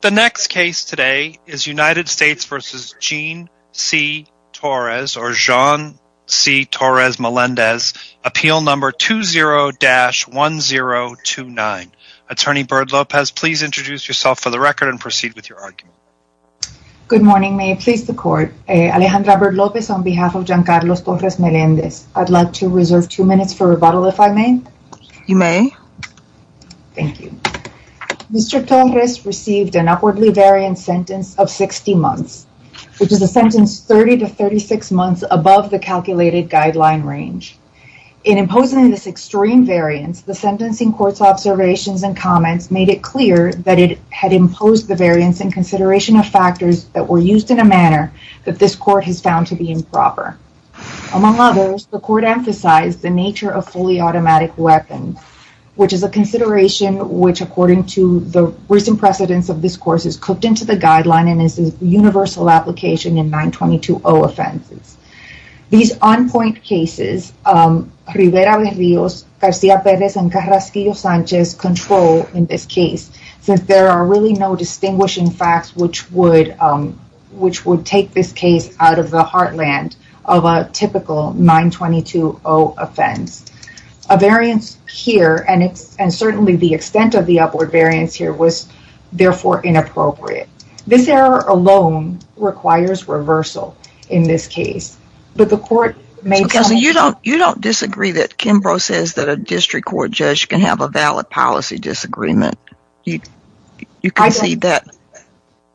The next case today is United States v. Jean C. Torres or Jean C. Torres-Melendez, appeal number 20-1029. Attorney Byrd-Lopez, please introduce yourself for the record and proceed with your argument. Good morning, may it please the court. Alejandra Byrd-Lopez on behalf of Giancarlo Torres-Melendez. I'd like to reserve two minutes for rebuttal if I may. You may. Thank you. Mr. Torres received an upwardly variant sentence of 60 months, which is a sentence 30 to 36 months above the calculated guideline range. In imposing this extreme variance, the sentencing court's observations and comments made it clear that it had imposed the variance in consideration of factors that were used in a manner that this court has found to be improper. Among others, the court emphasized the nature of fully automatic weapons, which is a consideration which, according to the recent precedence of this course, is cooked into the guideline and is a universal application in 922-0 offenses. These on-point cases, Rivera de Rios, Garcia Perez, and Carrasquillo Sanchez control in this case since there are really no distinguishing facts which would take this case out of the heartland of a typical 922-0 offense. A variance here, and certainly the extent of the upward variance here, was therefore inappropriate. This error alone requires reversal in this case, but the court may tell me... So, Kelsey, you don't disagree that Kimbrough says that a district court judge can have a valid policy disagreement? You concede that?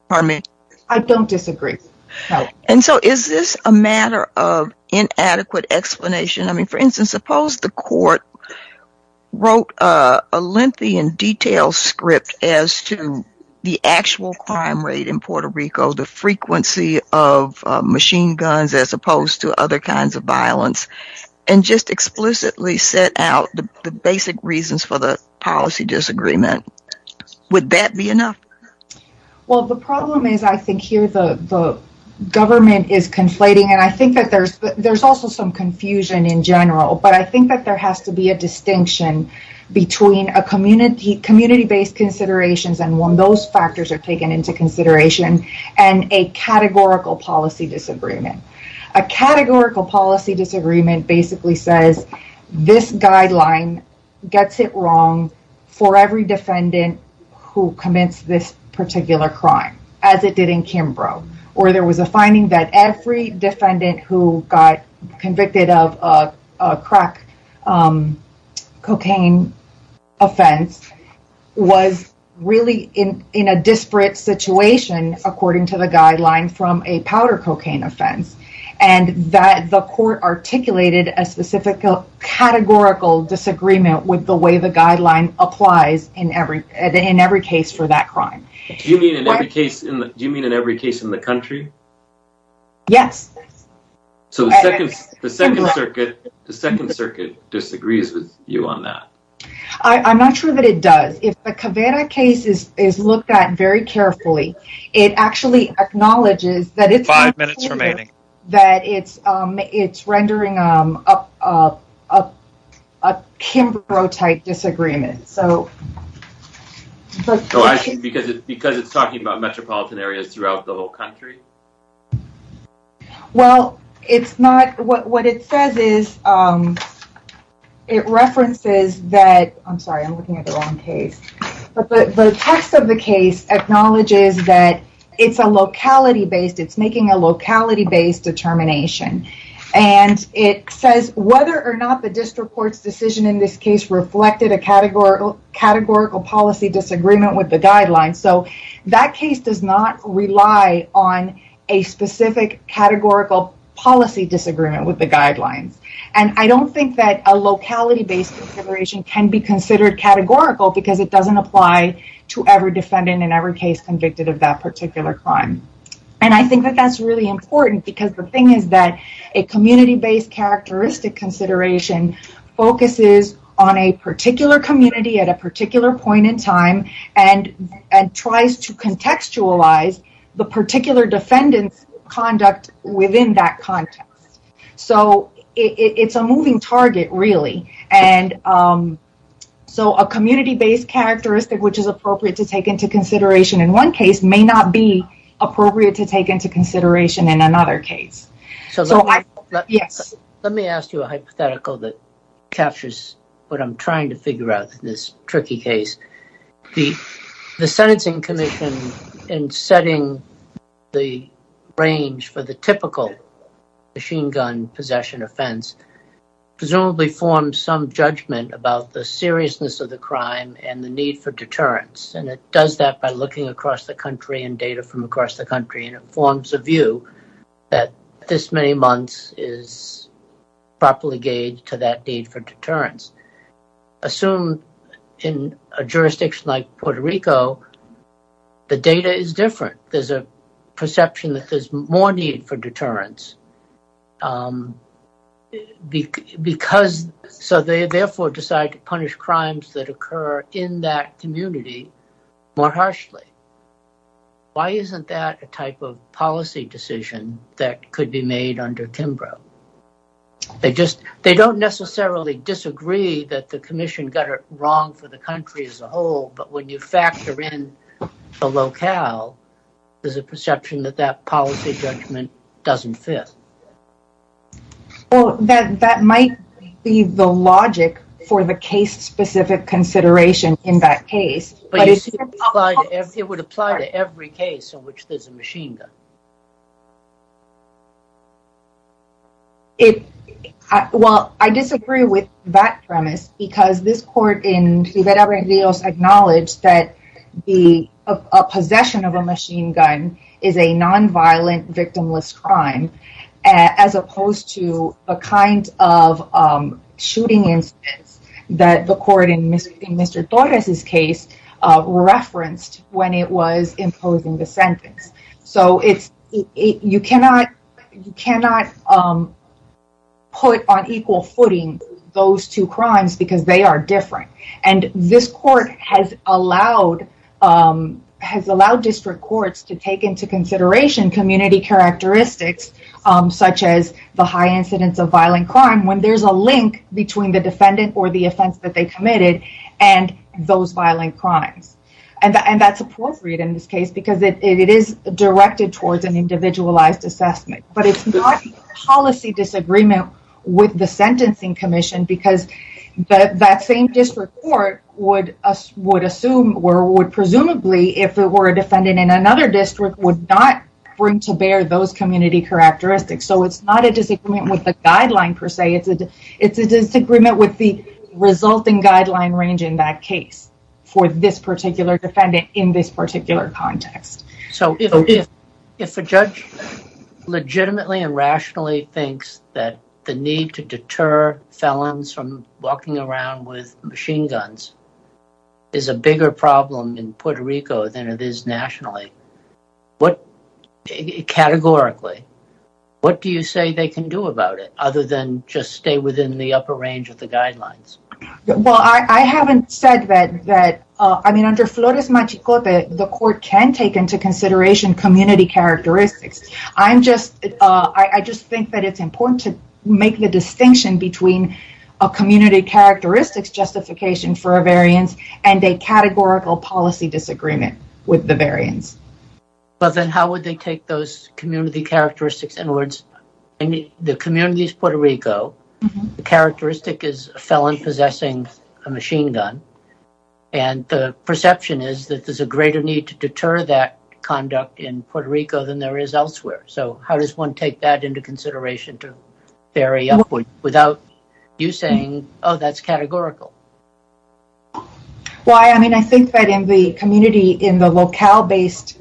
Pardon me? I don't disagree. And so, is this a matter of inadequate explanation? I mean, for instance, suppose the court wrote a lengthy and detailed script as to the actual crime rate in Puerto Rico, the frequency of machine guns as opposed to other kinds of violence, and just explicitly set out the basic reasons for the policy disagreement. Would that be enough? Well, the problem is I think here the government is conflating, and I think that there's also some confusion in general, but I think that there has to be a distinction between community-based considerations, and when those factors are taken into consideration, and a categorical policy disagreement. A categorical policy disagreement basically says this guideline gets it wrong for every defendant who commits this particular crime, as it did in Kimbrough, or there was a finding that every defendant who got convicted of a crack cocaine offense was really in a disparate situation according to the guideline from a powder cocaine offense, and that the court articulated a specific categorical disagreement with the way the guideline applies in every case for that crime. Do you mean in every case in the country? Yes. So, the Second Circuit disagrees with you on that? I'm not sure that it does. If the Caveira case is looked at very carefully, it actually acknowledges that it's rendering a Kimbrough-type disagreement. Because it's talking about metropolitan areas throughout the whole country? Well, what it says is it references that, I'm sorry, I'm looking at the wrong case, but the text of the case acknowledges that it's a locality-based, it's making a locality-based determination, and it says whether or not the district court's decision in this case reflected a categorical policy disagreement with the guidelines. So, that case does not rely on a specific categorical policy disagreement with the guidelines, and I don't think that locality-based consideration can be considered categorical because it doesn't apply to every defendant in every case convicted of that particular crime. And I think that that's really important because the thing is that a community-based characteristic consideration focuses on a particular community at a particular point in time and tries to contextualize the particular defendant's conduct within that context. So, it's a moving target, really. And so, a community-based characteristic, which is appropriate to take into consideration in one case, may not be appropriate to take into consideration in another case. So, yes. Let me ask you a hypothetical that captures what I'm trying to figure out in this tricky case. The Sentencing Commission, in setting the range for the typical machine gun possession offense, presumably forms some judgment about the seriousness of the crime and the need for deterrence, and it does that by looking across the country and data from across the country, and it forms a view that this many months is properly gauged to that need for deterrence. Assume in a jurisdiction like Puerto Rico, the data is different. There's a perception that there's more need for deterrence. So, they therefore decide to punish crimes that occur in that community more harshly. Why isn't that a type of policy decision that could be made under the Sentencing Commission? I disagree that the Commission got it wrong for the country as a whole, but when you factor in the locale, there's a perception that that policy judgment doesn't fit. Well, that might be the logic for the case-specific consideration in that case. But you see, it would apply to every case in which there's a machine gun. Well, I disagree with that premise, because this court in Rivera-Berridos acknowledged that the possession of a machine gun is a non-violent, victimless crime, as opposed to a kind of shooting instance that the court in Mr. Torres's case referenced when it was imposing the sentence. So, you cannot put on equal footing those two crimes, because they are different. And this court has allowed district courts to take into consideration community characteristics, such as the high incidence of violent crime, when there's a link between the defendant or the offense that they committed and those violent crimes. And that's appropriate in this case, because it is directed towards an individualized assessment. But it's not a policy disagreement with the Sentencing Commission, because that same district court would assume, or would presumably, if it were a defendant in another district, would not bring to bear those community characteristics. So, it's not a disagreement with the guideline, per se. It's a disagreement with the resulting range in that case, for this particular defendant in this particular context. So, if a judge legitimately and rationally thinks that the need to deter felons from walking around with machine guns is a bigger problem in Puerto Rico than it is nationally, categorically, what do you say they can do about it, other than just stay within the range of the guidelines? Well, I haven't said that. I mean, under Flores-Machicope, the court can take into consideration community characteristics. I just think that it's important to make the distinction between a community characteristics justification for a variance and a categorical policy disagreement with the variance. But then, how would they take those is a felon possessing a machine gun, and the perception is that there's a greater need to deter that conduct in Puerto Rico than there is elsewhere. So, how does one take that into consideration to vary upward without you saying, oh, that's categorical? Well, I mean, I think that in the community, in the locale-based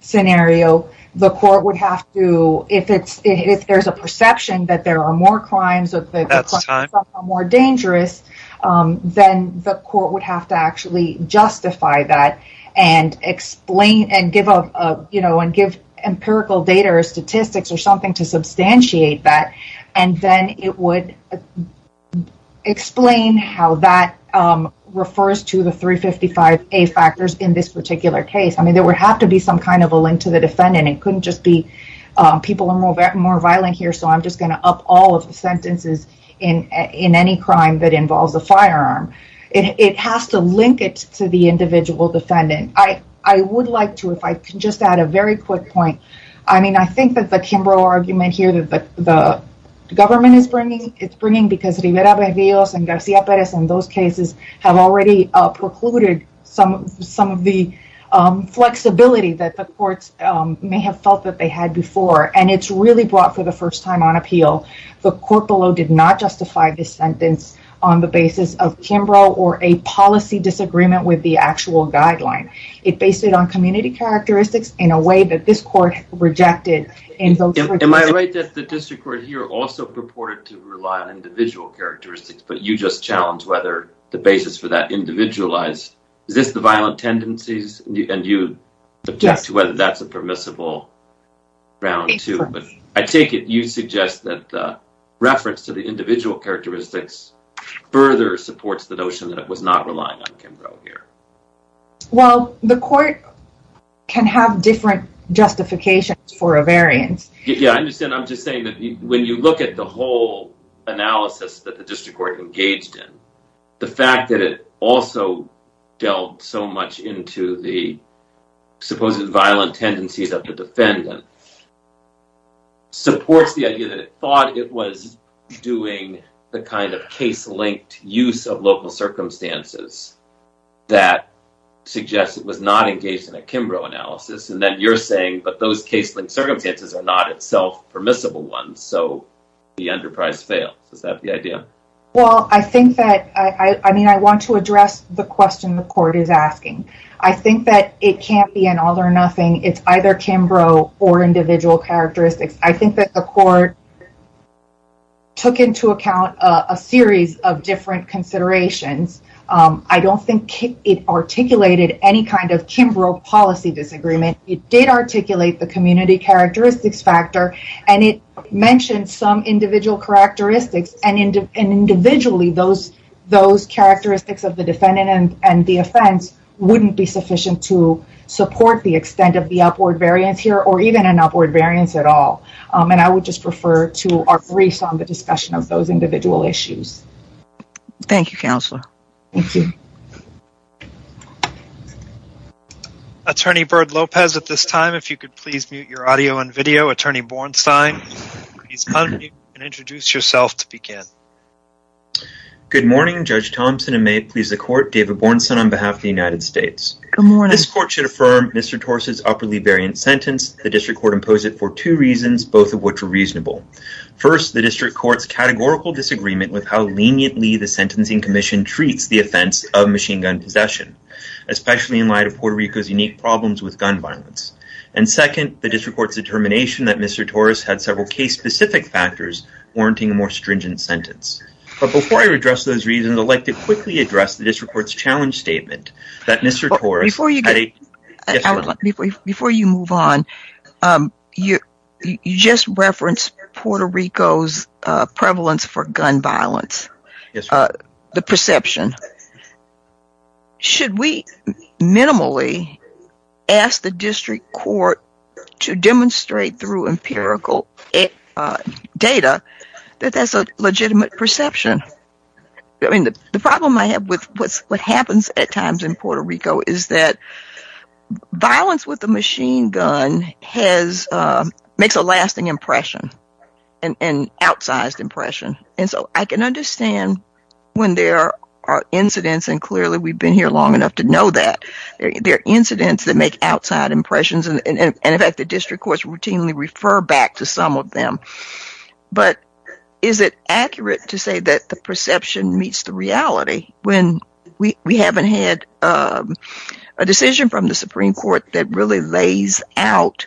scenario, the court would have to, if there's a perception that there are more crimes or the crimes are more dangerous, then the court would have to actually justify that and give empirical data or statistics or something to substantiate that, and then it would explain how that refers to the 355A factors in this particular case. I mean, there would have to be some kind of a link to the defendant. It more violent here, so I'm just going to up all of the sentences in any crime that involves a firearm. It has to link it to the individual defendant. I would like to, if I can just add a very quick point. I mean, I think that the Kimbrough argument here that the government is bringing, it's bringing because Rivera Berrios and Garcia Perez in those cases have already precluded some of the flexibility that the courts may have felt that they had before, and it's really brought for the first time on appeal. The court below did not justify this sentence on the basis of Kimbrough or a policy disagreement with the actual guideline. It based it on community characteristics in a way that this court rejected. Am I right that the district court here also purported to rely on individual characteristics, but you just challenged whether the basis for that individualized, is this the violent tendencies, and you object to whether that's a permissible ground too, but I take it you suggest that the reference to the individual characteristics further supports the notion that it was not relying on Kimbrough here. Well, the court can have different justifications for a variance. Yeah, I understand. I'm just saying that when you look at the whole analysis that the district court engaged in, the fact that it also delved so much into the supposed violent tendencies of the defendant supports the idea that it thought it was doing the kind of case-linked use of local circumstances that suggests it was not engaged in a Kimbrough analysis, and then you're saying, but those case-linked circumstances are not itself permissible ones, so the enterprise fails. Is that the idea? Well, I think that, I mean, I want to address the question the court is asking. I think that it can't be an all or nothing. It's either Kimbrough or individual characteristics. I think that the court took into account a series of different considerations. I don't think it articulated any kind of Kimbrough policy disagreement. It did articulate the community characteristics factor, and it mentioned some individual characteristics, and individually those characteristics of the defendant and the offense wouldn't be sufficient to support the extent of the upward variance here or even an upward variance at all, and I would just refer to our briefs on the discussion of those individual issues. Thank you, Counselor. Thank you. Attorney Byrd-Lopez, at this time, if you could please mute your audio and video. Attorney Bornstein, please unmute and introduce yourself to begin. Good morning. Judge Thompson, and may it please the court, David Bornstein on behalf of the United States. Good morning. This court should affirm Mr. Tors' upwardly variant sentence. The District Court imposed it for two reasons, both of which are reasonable. First, the District Court's categorical disagreement with how leniently the Sentencing Commission treats the offense of machine gun possession, especially in light of Puerto Rico's unique problems with gun violence, and second, the District Court's determination that Mr. Tors had several case-specific factors warranting a more stringent sentence, but before I address those reasons, I'd like to quickly address the District Court's challenge statement that Mr. Tors... Before you move on, you just referenced Puerto Rico's prevalence for gun violence, the perception. Should we minimally ask the District Court to demonstrate through empirical data that that's a legitimate perception? I mean, the problem I have with what happens at times in Puerto Rico is that violence with a machine gun makes a lasting impression, an outsized impression, and so I can understand when there are incidents, and clearly we've been here long enough to know that, there are incidents that make outside impressions, and in fact, the District Courts routinely refer back to some of them, but is it accurate to say that the perception meets the reality when we that really lays out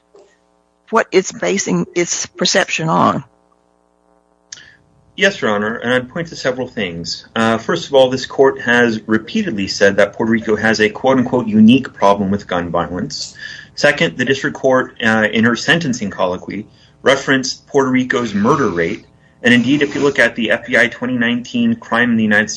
what it's basing its perception on? Yes, Your Honor, and I'd point to several things. First of all, this Court has repeatedly said that Puerto Rico has a quote-unquote unique problem with gun violence. Second, the District Court, in her sentencing colloquy, referenced Puerto Rico's murder rate, and indeed, if you look at the FBI 2019 Crime in the United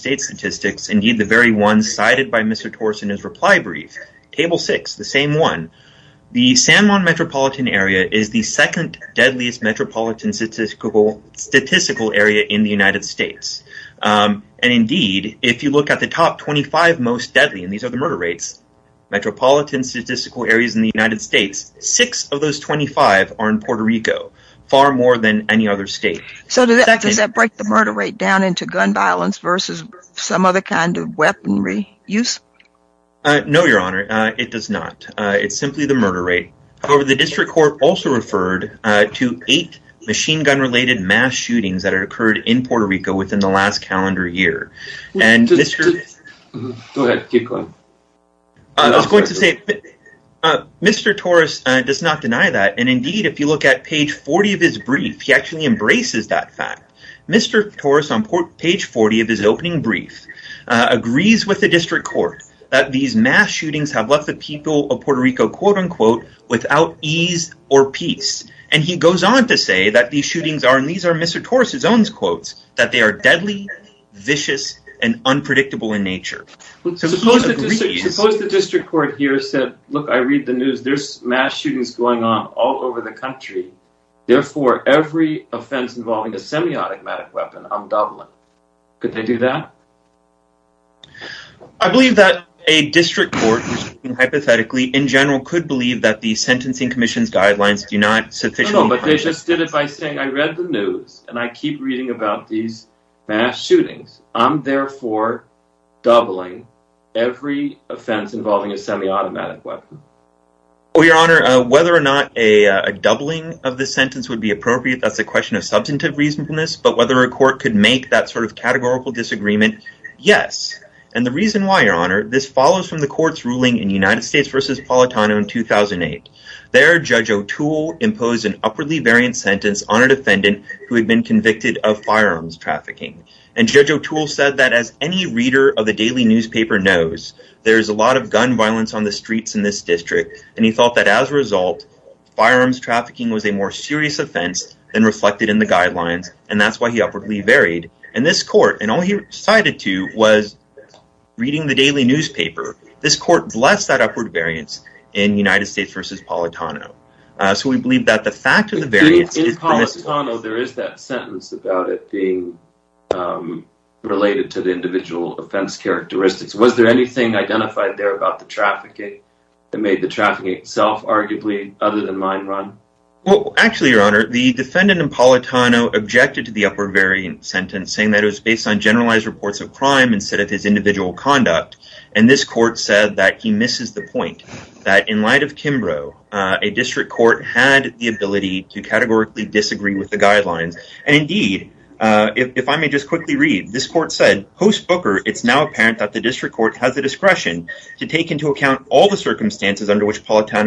The San Juan metropolitan area is the second deadliest metropolitan statistical area in the United States, and indeed, if you look at the top 25 most deadly, and these are the murder rates, metropolitan statistical areas in the United States, six of those 25 are in Puerto Rico, far more than any other state. So does that break the murder rate down into gun violence versus some other kind of weaponry use? No, Your Honor, it does not. It's simply the murder rate. However, the District Court also referred to eight machine gun-related mass shootings that had occurred in Puerto Rico within the last calendar year, and Mr. Torres does not deny that, and indeed, if you look at page 40 of his brief, he actually embraces that fact. Mr. Torres, on page 40 of his opening brief, agrees with the District Court that these mass shootings have left the people of Puerto Rico, quote-unquote, without ease or peace, and he goes on to say that these shootings are, and these are Mr. Torres's own quotes, that they are deadly, vicious, and unpredictable in nature. Suppose the District Court here said, look, I read the news, there's mass shootings going on all over the country, therefore, every offense involving a semi-automatic weapon, I'm doubling. Could they do that? I believe that a District Court, hypothetically, in general, could believe that the Sentencing Commission's guidelines do not sufficiently... No, no, but they just did it by saying, I read the news, and I keep reading about these mass shootings, I'm therefore doubling every offense involving a semi-automatic weapon. Oh, Your Honor, whether or not a doubling of the sentence would be appropriate, that's a question, but whether a court could make that sort of categorical disagreement, yes, and the reason why, Your Honor, this follows from the court's ruling in United States v. Palatano in 2008. There, Judge O'Toole imposed an upwardly variant sentence on a defendant who had been convicted of firearms trafficking, and Judge O'Toole said that, as any reader of the daily newspaper knows, there's a lot of gun violence on the streets in this district, and he felt that, as a result, firearms trafficking was a more serious offense than reflected in the guidelines, and that's why he upwardly varied in this court, and all he recited to was, reading the daily newspaper, this court blessed that upward variance in United States v. Palatano. So, we believe that the fact of the variance... In Palatano, there is that sentence about it being related to the individual offense characteristics. Was there anything identified there about the arguably other than mine, Ron? Well, actually, Your Honor, the defendant in Palatano objected to the upward variant sentence, saying that it was based on generalized reports of crime instead of his individual conduct, and this court said that he misses the point, that, in light of Kimbrough, a district court had the ability to categorically disagree with the guidelines, and, indeed, if I may just quickly read, this court said, post-Booker, it's now apparent that the district court has the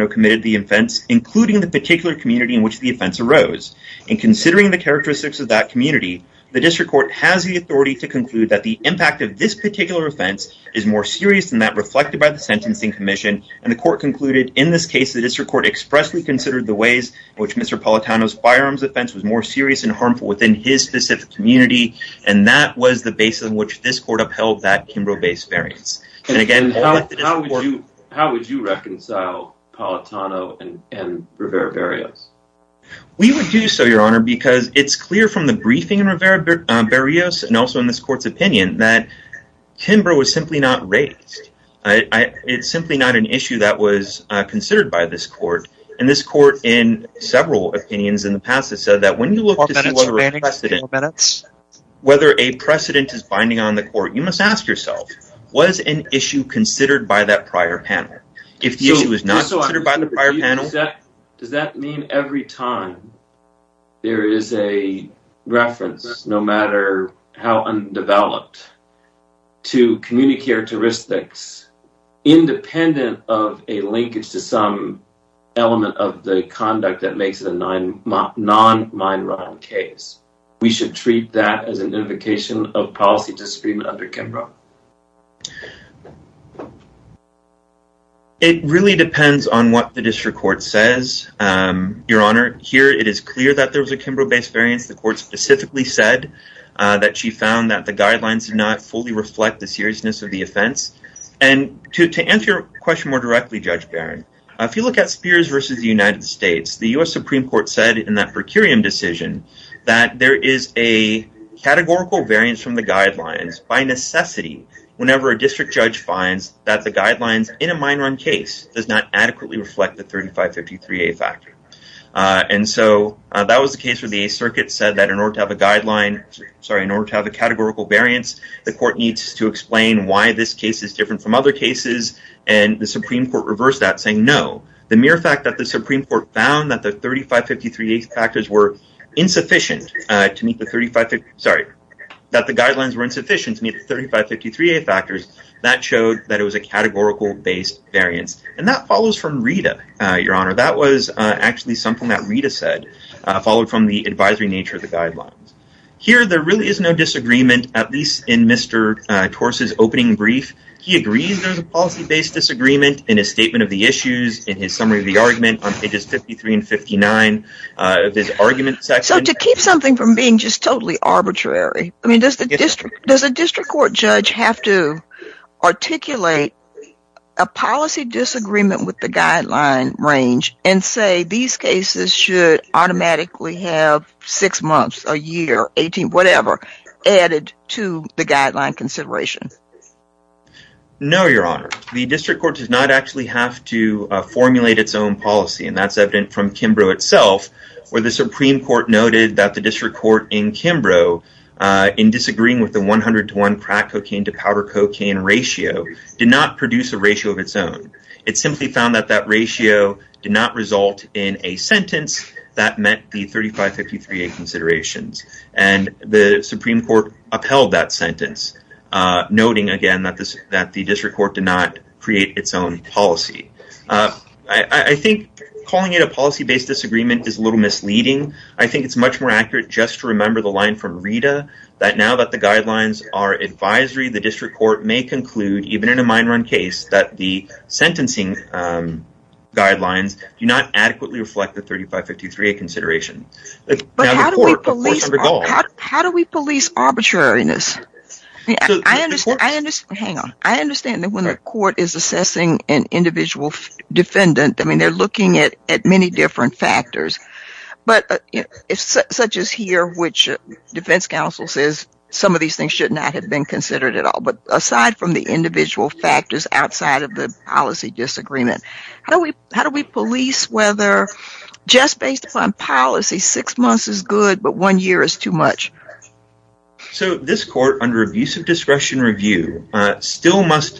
committed the offense, including the particular community in which the offense arose, and considering the characteristics of that community, the district court has the authority to conclude that the impact of this particular offense is more serious than that reflected by the sentencing commission, and the court concluded, in this case, the district court expressly considered the ways in which Mr. Palatano's firearms offense was more serious and harmful within his specific community, and that was the basis on which this court upheld that And how would you reconcile Palatano and Rivera-Barrios? We would do so, Your Honor, because it's clear from the briefing in Rivera-Barrios, and also in this court's opinion, that Kimbrough was simply not raised. It's simply not an issue that was considered by this court, and this court, in several opinions in the past, has said that when you look to see whether a precedent is binding on the court, you must ask yourself, was an issue considered by that prior panel? If the issue was not considered by the prior panel... Does that mean every time there is a reference, no matter how undeveloped, to community characteristics, independent of a linkage to some element of the conduct that makes it a non-mine run case? We should treat that as an invocation of policy disagreement under Kimbrough. It really depends on what the district court says, Your Honor. Here, it is clear that there was a Kimbrough-based variance. The court specifically said that she found that the guidelines did not fully reflect the seriousness of the offense. And to answer your question more directly, Judge Barron, if you look at Spears versus the United States, the U.S. Supreme Court said in that per curiam decision that there is a categorical variance from the guidelines by necessity whenever a district judge finds that the guidelines in a mine run case does not adequately reflect the 3553A factor. And so that was the case where the Eighth Circuit said that in order to have a categorical variance, the court needs to explain why this case is different from other cases, and the Supreme Court reversed that, saying no. The mere fact that the Supreme Court found that the guidelines were insufficient to meet the 3553A factors, that showed that it was a categorical-based variance. And that follows from Rita, Your Honor. That was actually something that Rita said, followed from the advisory nature of the guidelines. Here, there really is no disagreement, at least in Mr. Torse's opening brief. He agrees there's a policy-based disagreement in his statement of the issues, in his summary of the argument on pages 53 and 59 of his argument section. So to keep something from being just totally arbitrary, I mean, does the district court judge have to articulate a policy disagreement with the guideline range and say these cases should automatically have six months, a year, 18, whatever, added to the guideline consideration? No, Your Honor. The district court does not actually have to formulate its own policy, and that's evident from Kimbrough itself, where the Supreme Court noted that the district court in Kimbrough, in disagreeing with the 100 to 1 crack cocaine to powder cocaine ratio, did not produce a ratio of its own. It simply found that that ratio did not result in a sentence that met the 3553A considerations, and the Supreme Court upheld that sentence, noting again that the district court did not create its own policy. I think calling it a policy-based disagreement is a little misleading. I think it's much more accurate just to remember the line from Rita, that now that the guidelines are advisory, the district court may conclude, even in a mine run case, that the court apportioned the goal. How do we police arbitrariness? Hang on. I understand that when the court is assessing an individual defendant, I mean, they're looking at many different factors, but such as here, which defense counsel says some of these things should not have been considered at all, but aside from the individual factors outside of the policy disagreement, how do we do that? So this court, under abuse of discretion review, still must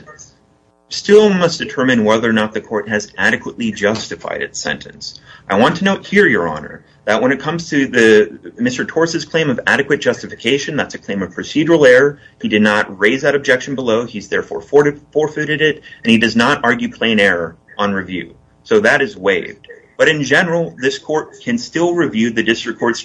determine whether or not the court has adequately justified its sentence. I want to note here, your honor, that when it comes to Mr. Torres' claim of adequate justification, that's a claim of procedural error. He did not raise that objection below. He's therefore forfeited it, and he does not argue plain error on review. So that is waived. But in general, this court can still review the district court's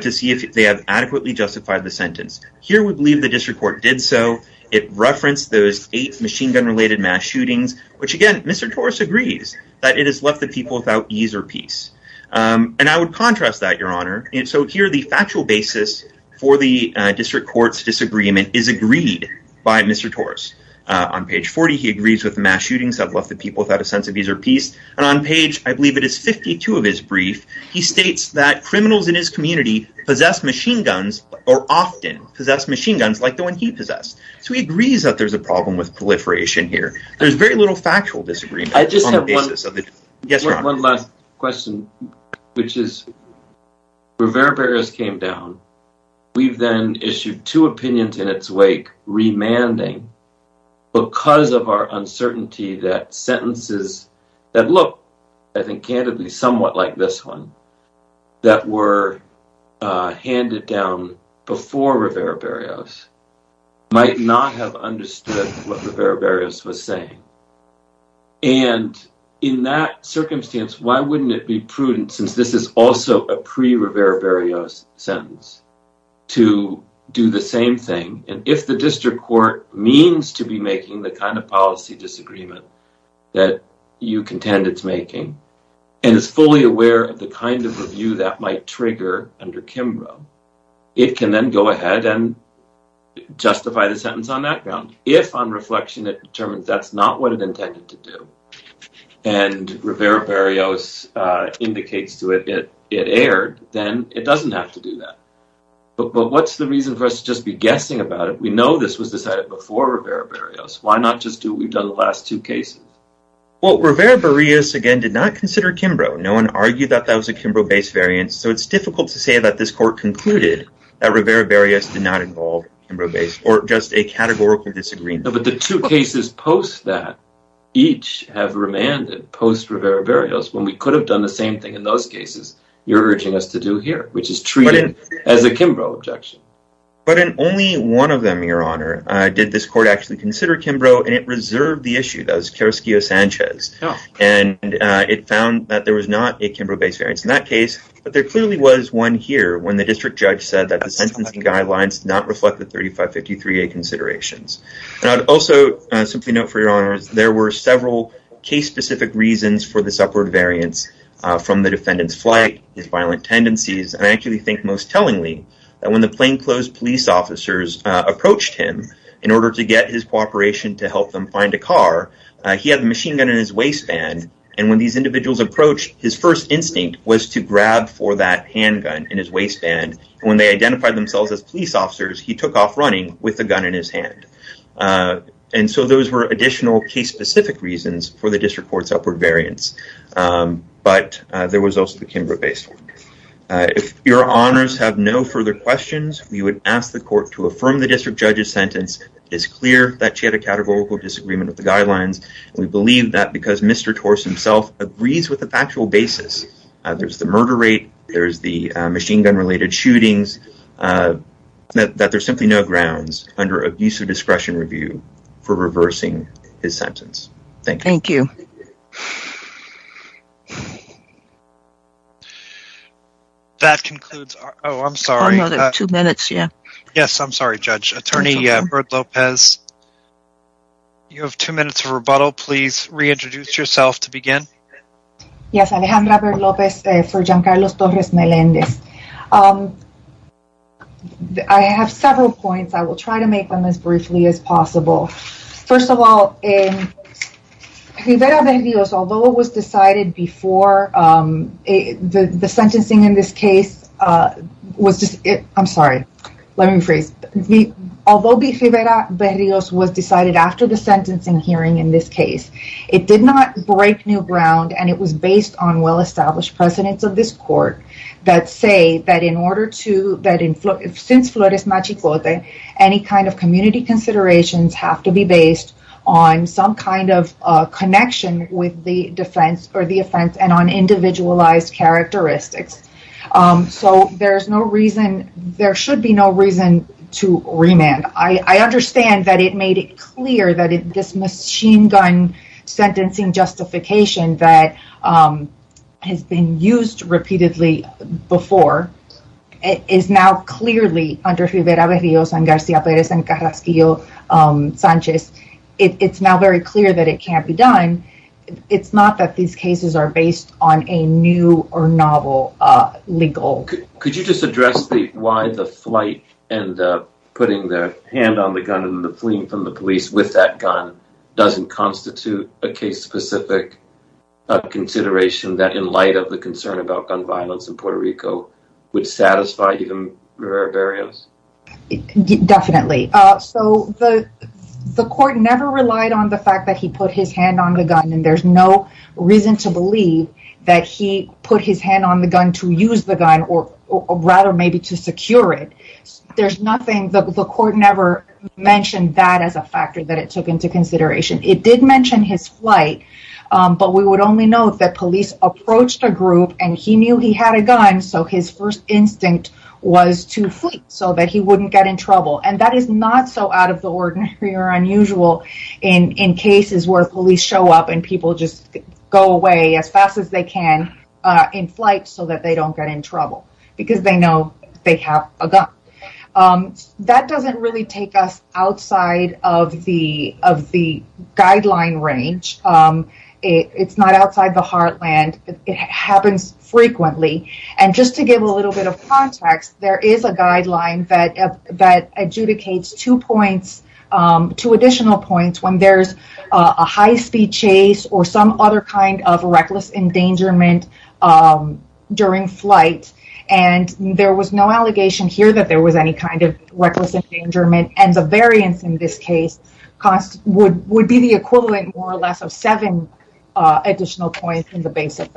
to see if they have adequately justified the sentence. Here, we believe the district court did so. It referenced those eight machine gun related mass shootings, which again, Mr. Torres agrees that it has left the people without ease or peace. And I would contrast that, your honor. And so here, the factual basis for the district court's disagreement is agreed by Mr. Torres. On page 40, he agrees with the mass shootings have left the people without a possess machine guns, or often possess machine guns like the one he possessed. So he agrees that there's a problem with proliferation here. There's very little factual disagreement. I just have one last question, which is, Rivera-Perez came down. We've then issued two opinions in its wake, remanding because of our uncertainty that sentences that look, I think, candidly, somewhat like this one that were handed down before Rivera-Perez might not have understood what Rivera-Perez was saying. And in that circumstance, why wouldn't it be prudent since this is also a pre Rivera-Perez sentence to do the same thing? And if the district court means to be making the kind of policy disagreement that you contend it's and is fully aware of the kind of review that might trigger under Kimbrough, it can then go ahead and justify the sentence on that ground. If on reflection, it determines that's not what it intended to do. And Rivera-Perez indicates to it that it aired, then it doesn't have to do that. But what's the reason for us to just be guessing about it? We know this was decided before Rivera-Perez. Why not just do what we've done the last two cases? Well, Rivera-Perez, again, did not consider Kimbrough. No one argued that that was a Kimbrough-based variance. So it's difficult to say that this court concluded that Rivera-Perez did not involve Kimbrough-based or just a categorical disagreement. But the two cases post that each have remanded post Rivera-Perez when we could have done the same thing in those cases you're urging us to do here, which is treated as a Did this court actually consider Kimbrough? And it reserved the issue. That was Carrasquillo-Sanchez. And it found that there was not a Kimbrough-based variance in that case. But there clearly was one here when the district judge said that the sentencing guidelines did not reflect the 3553A considerations. And I'd also simply note for your honors, there were several case-specific reasons for this upward variance from the defendant's flight, his violent tendencies. And I actually think most tellingly that when the plainclothes police officers approached him in order to get his cooperation to help them find a car, he had a machine gun in his waistband. And when these individuals approached, his first instinct was to grab for that handgun in his waistband. And when they identified themselves as police officers, he took off running with the gun in his hand. And so those were additional case-specific reasons for the district court's upward variance. But there was also the Kimbrough-based one. If your honors have no further questions, we would ask the court to affirm the district judge's sentence. It's clear that she had a categorical disagreement with the guidelines. We believe that because Mr. Torres himself agrees with the factual basis, there's the murder rate, there's the machine gun-related shootings, that there's simply no grounds under abuse of discretion review for reversing his sentence. Thank you. That concludes our... Oh, I'm sorry. Oh, another two minutes, yeah. Yes, I'm sorry, Judge. Attorney Baird-Lopez, you have two minutes of rebuttal. Please reintroduce yourself to begin. Yes, Alejandra Baird-Lopez for Giancarlo Torres Melendez. I have several points. I will try to make them as briefly as possible. First of all, Rivera-Berrios, although it was decided before the sentencing in this case was just... I'm sorry, let me rephrase. Although Rivera-Berrios was decided after the sentencing hearing in this case, it did not break new ground and it was based on well-established precedents of this court that say that since Flores Machicote, any kind of community considerations have to be based on some kind of connection with the defense or the offense and on individualized characteristics. So there should be no reason to remand. I understand that it made it clear that this machine gun sentencing justification that has been used repeatedly before is now clearly under Rivera-Berrios and Garcia-Perez and Carrasquillo Sanchez. It's now very clear that it can't be done. It's not that these cases are based on a new or novel legal... Could you just address why the flight and putting their hand on the gun and that gun doesn't constitute a case-specific consideration that in light of the concern about gun violence in Puerto Rico would satisfy even Rivera-Berrios? Definitely. So the court never relied on the fact that he put his hand on the gun and there's no reason to believe that he put his hand on the gun to use the gun or rather maybe to secure it. There's nothing... The court never mentioned that as a factor that it took into consideration. It did mention his flight, but we would only know that police approached a group and he knew he had a gun, so his first instinct was to flee so that he wouldn't get in trouble. And that is not so out of the ordinary or unusual in cases where police show up and people just go away as fast as they can in flight so that they don't get in trouble because they know they have a gun. That doesn't really take us outside of the guideline range. It's not outside the heartland. It happens frequently. And just to give a little bit of context, there is a guideline that adjudicates two additional points when there's a high-speed chase or some other kind of reckless endangerment during flight. And there was no allegation here that there was any kind of reckless endangerment and the variance in this case would be the equivalent more or less of seven additional points in the basic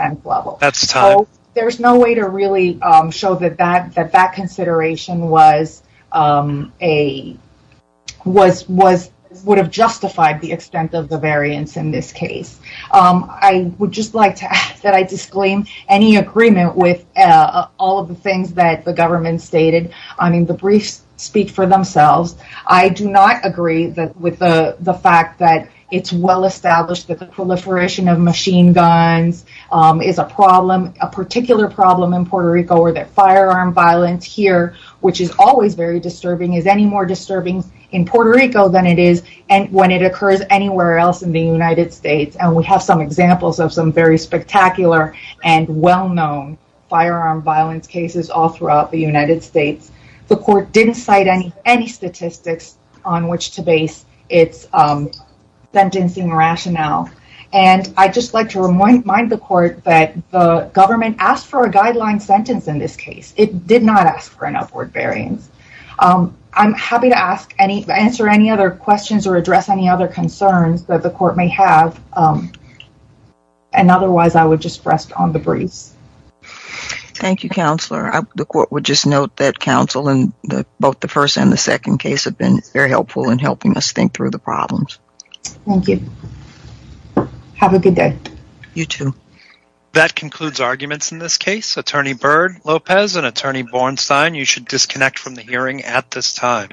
of the variance in this case. I would just like to ask that I disclaim any agreement with all of the things that the government stated. I mean, the briefs speak for themselves. I do not agree with the fact that it's well-established that the proliferation of machine guns is a particular problem in Puerto Rico or that firearm violence here, which is always very anywhere else in the United States. And we have some examples of some very spectacular and well-known firearm violence cases all throughout the United States. The court didn't cite any statistics on which to base its sentencing rationale. And I'd just like to remind the court that the government asked for a guideline sentence in this case. It did not ask for an upward variance. I'm happy to answer any other questions or address any other concerns that the court may have. And otherwise, I would just rest on the briefs. Thank you, counselor. The court would just note that counsel in both the first and the second case have been very helpful in helping us think through the problems. Thank you. Have a good day. You too. That concludes arguments in this case. Attorney Byrd, Lopez, and Attorney Bornstein, you should disconnect from the hearing at this time.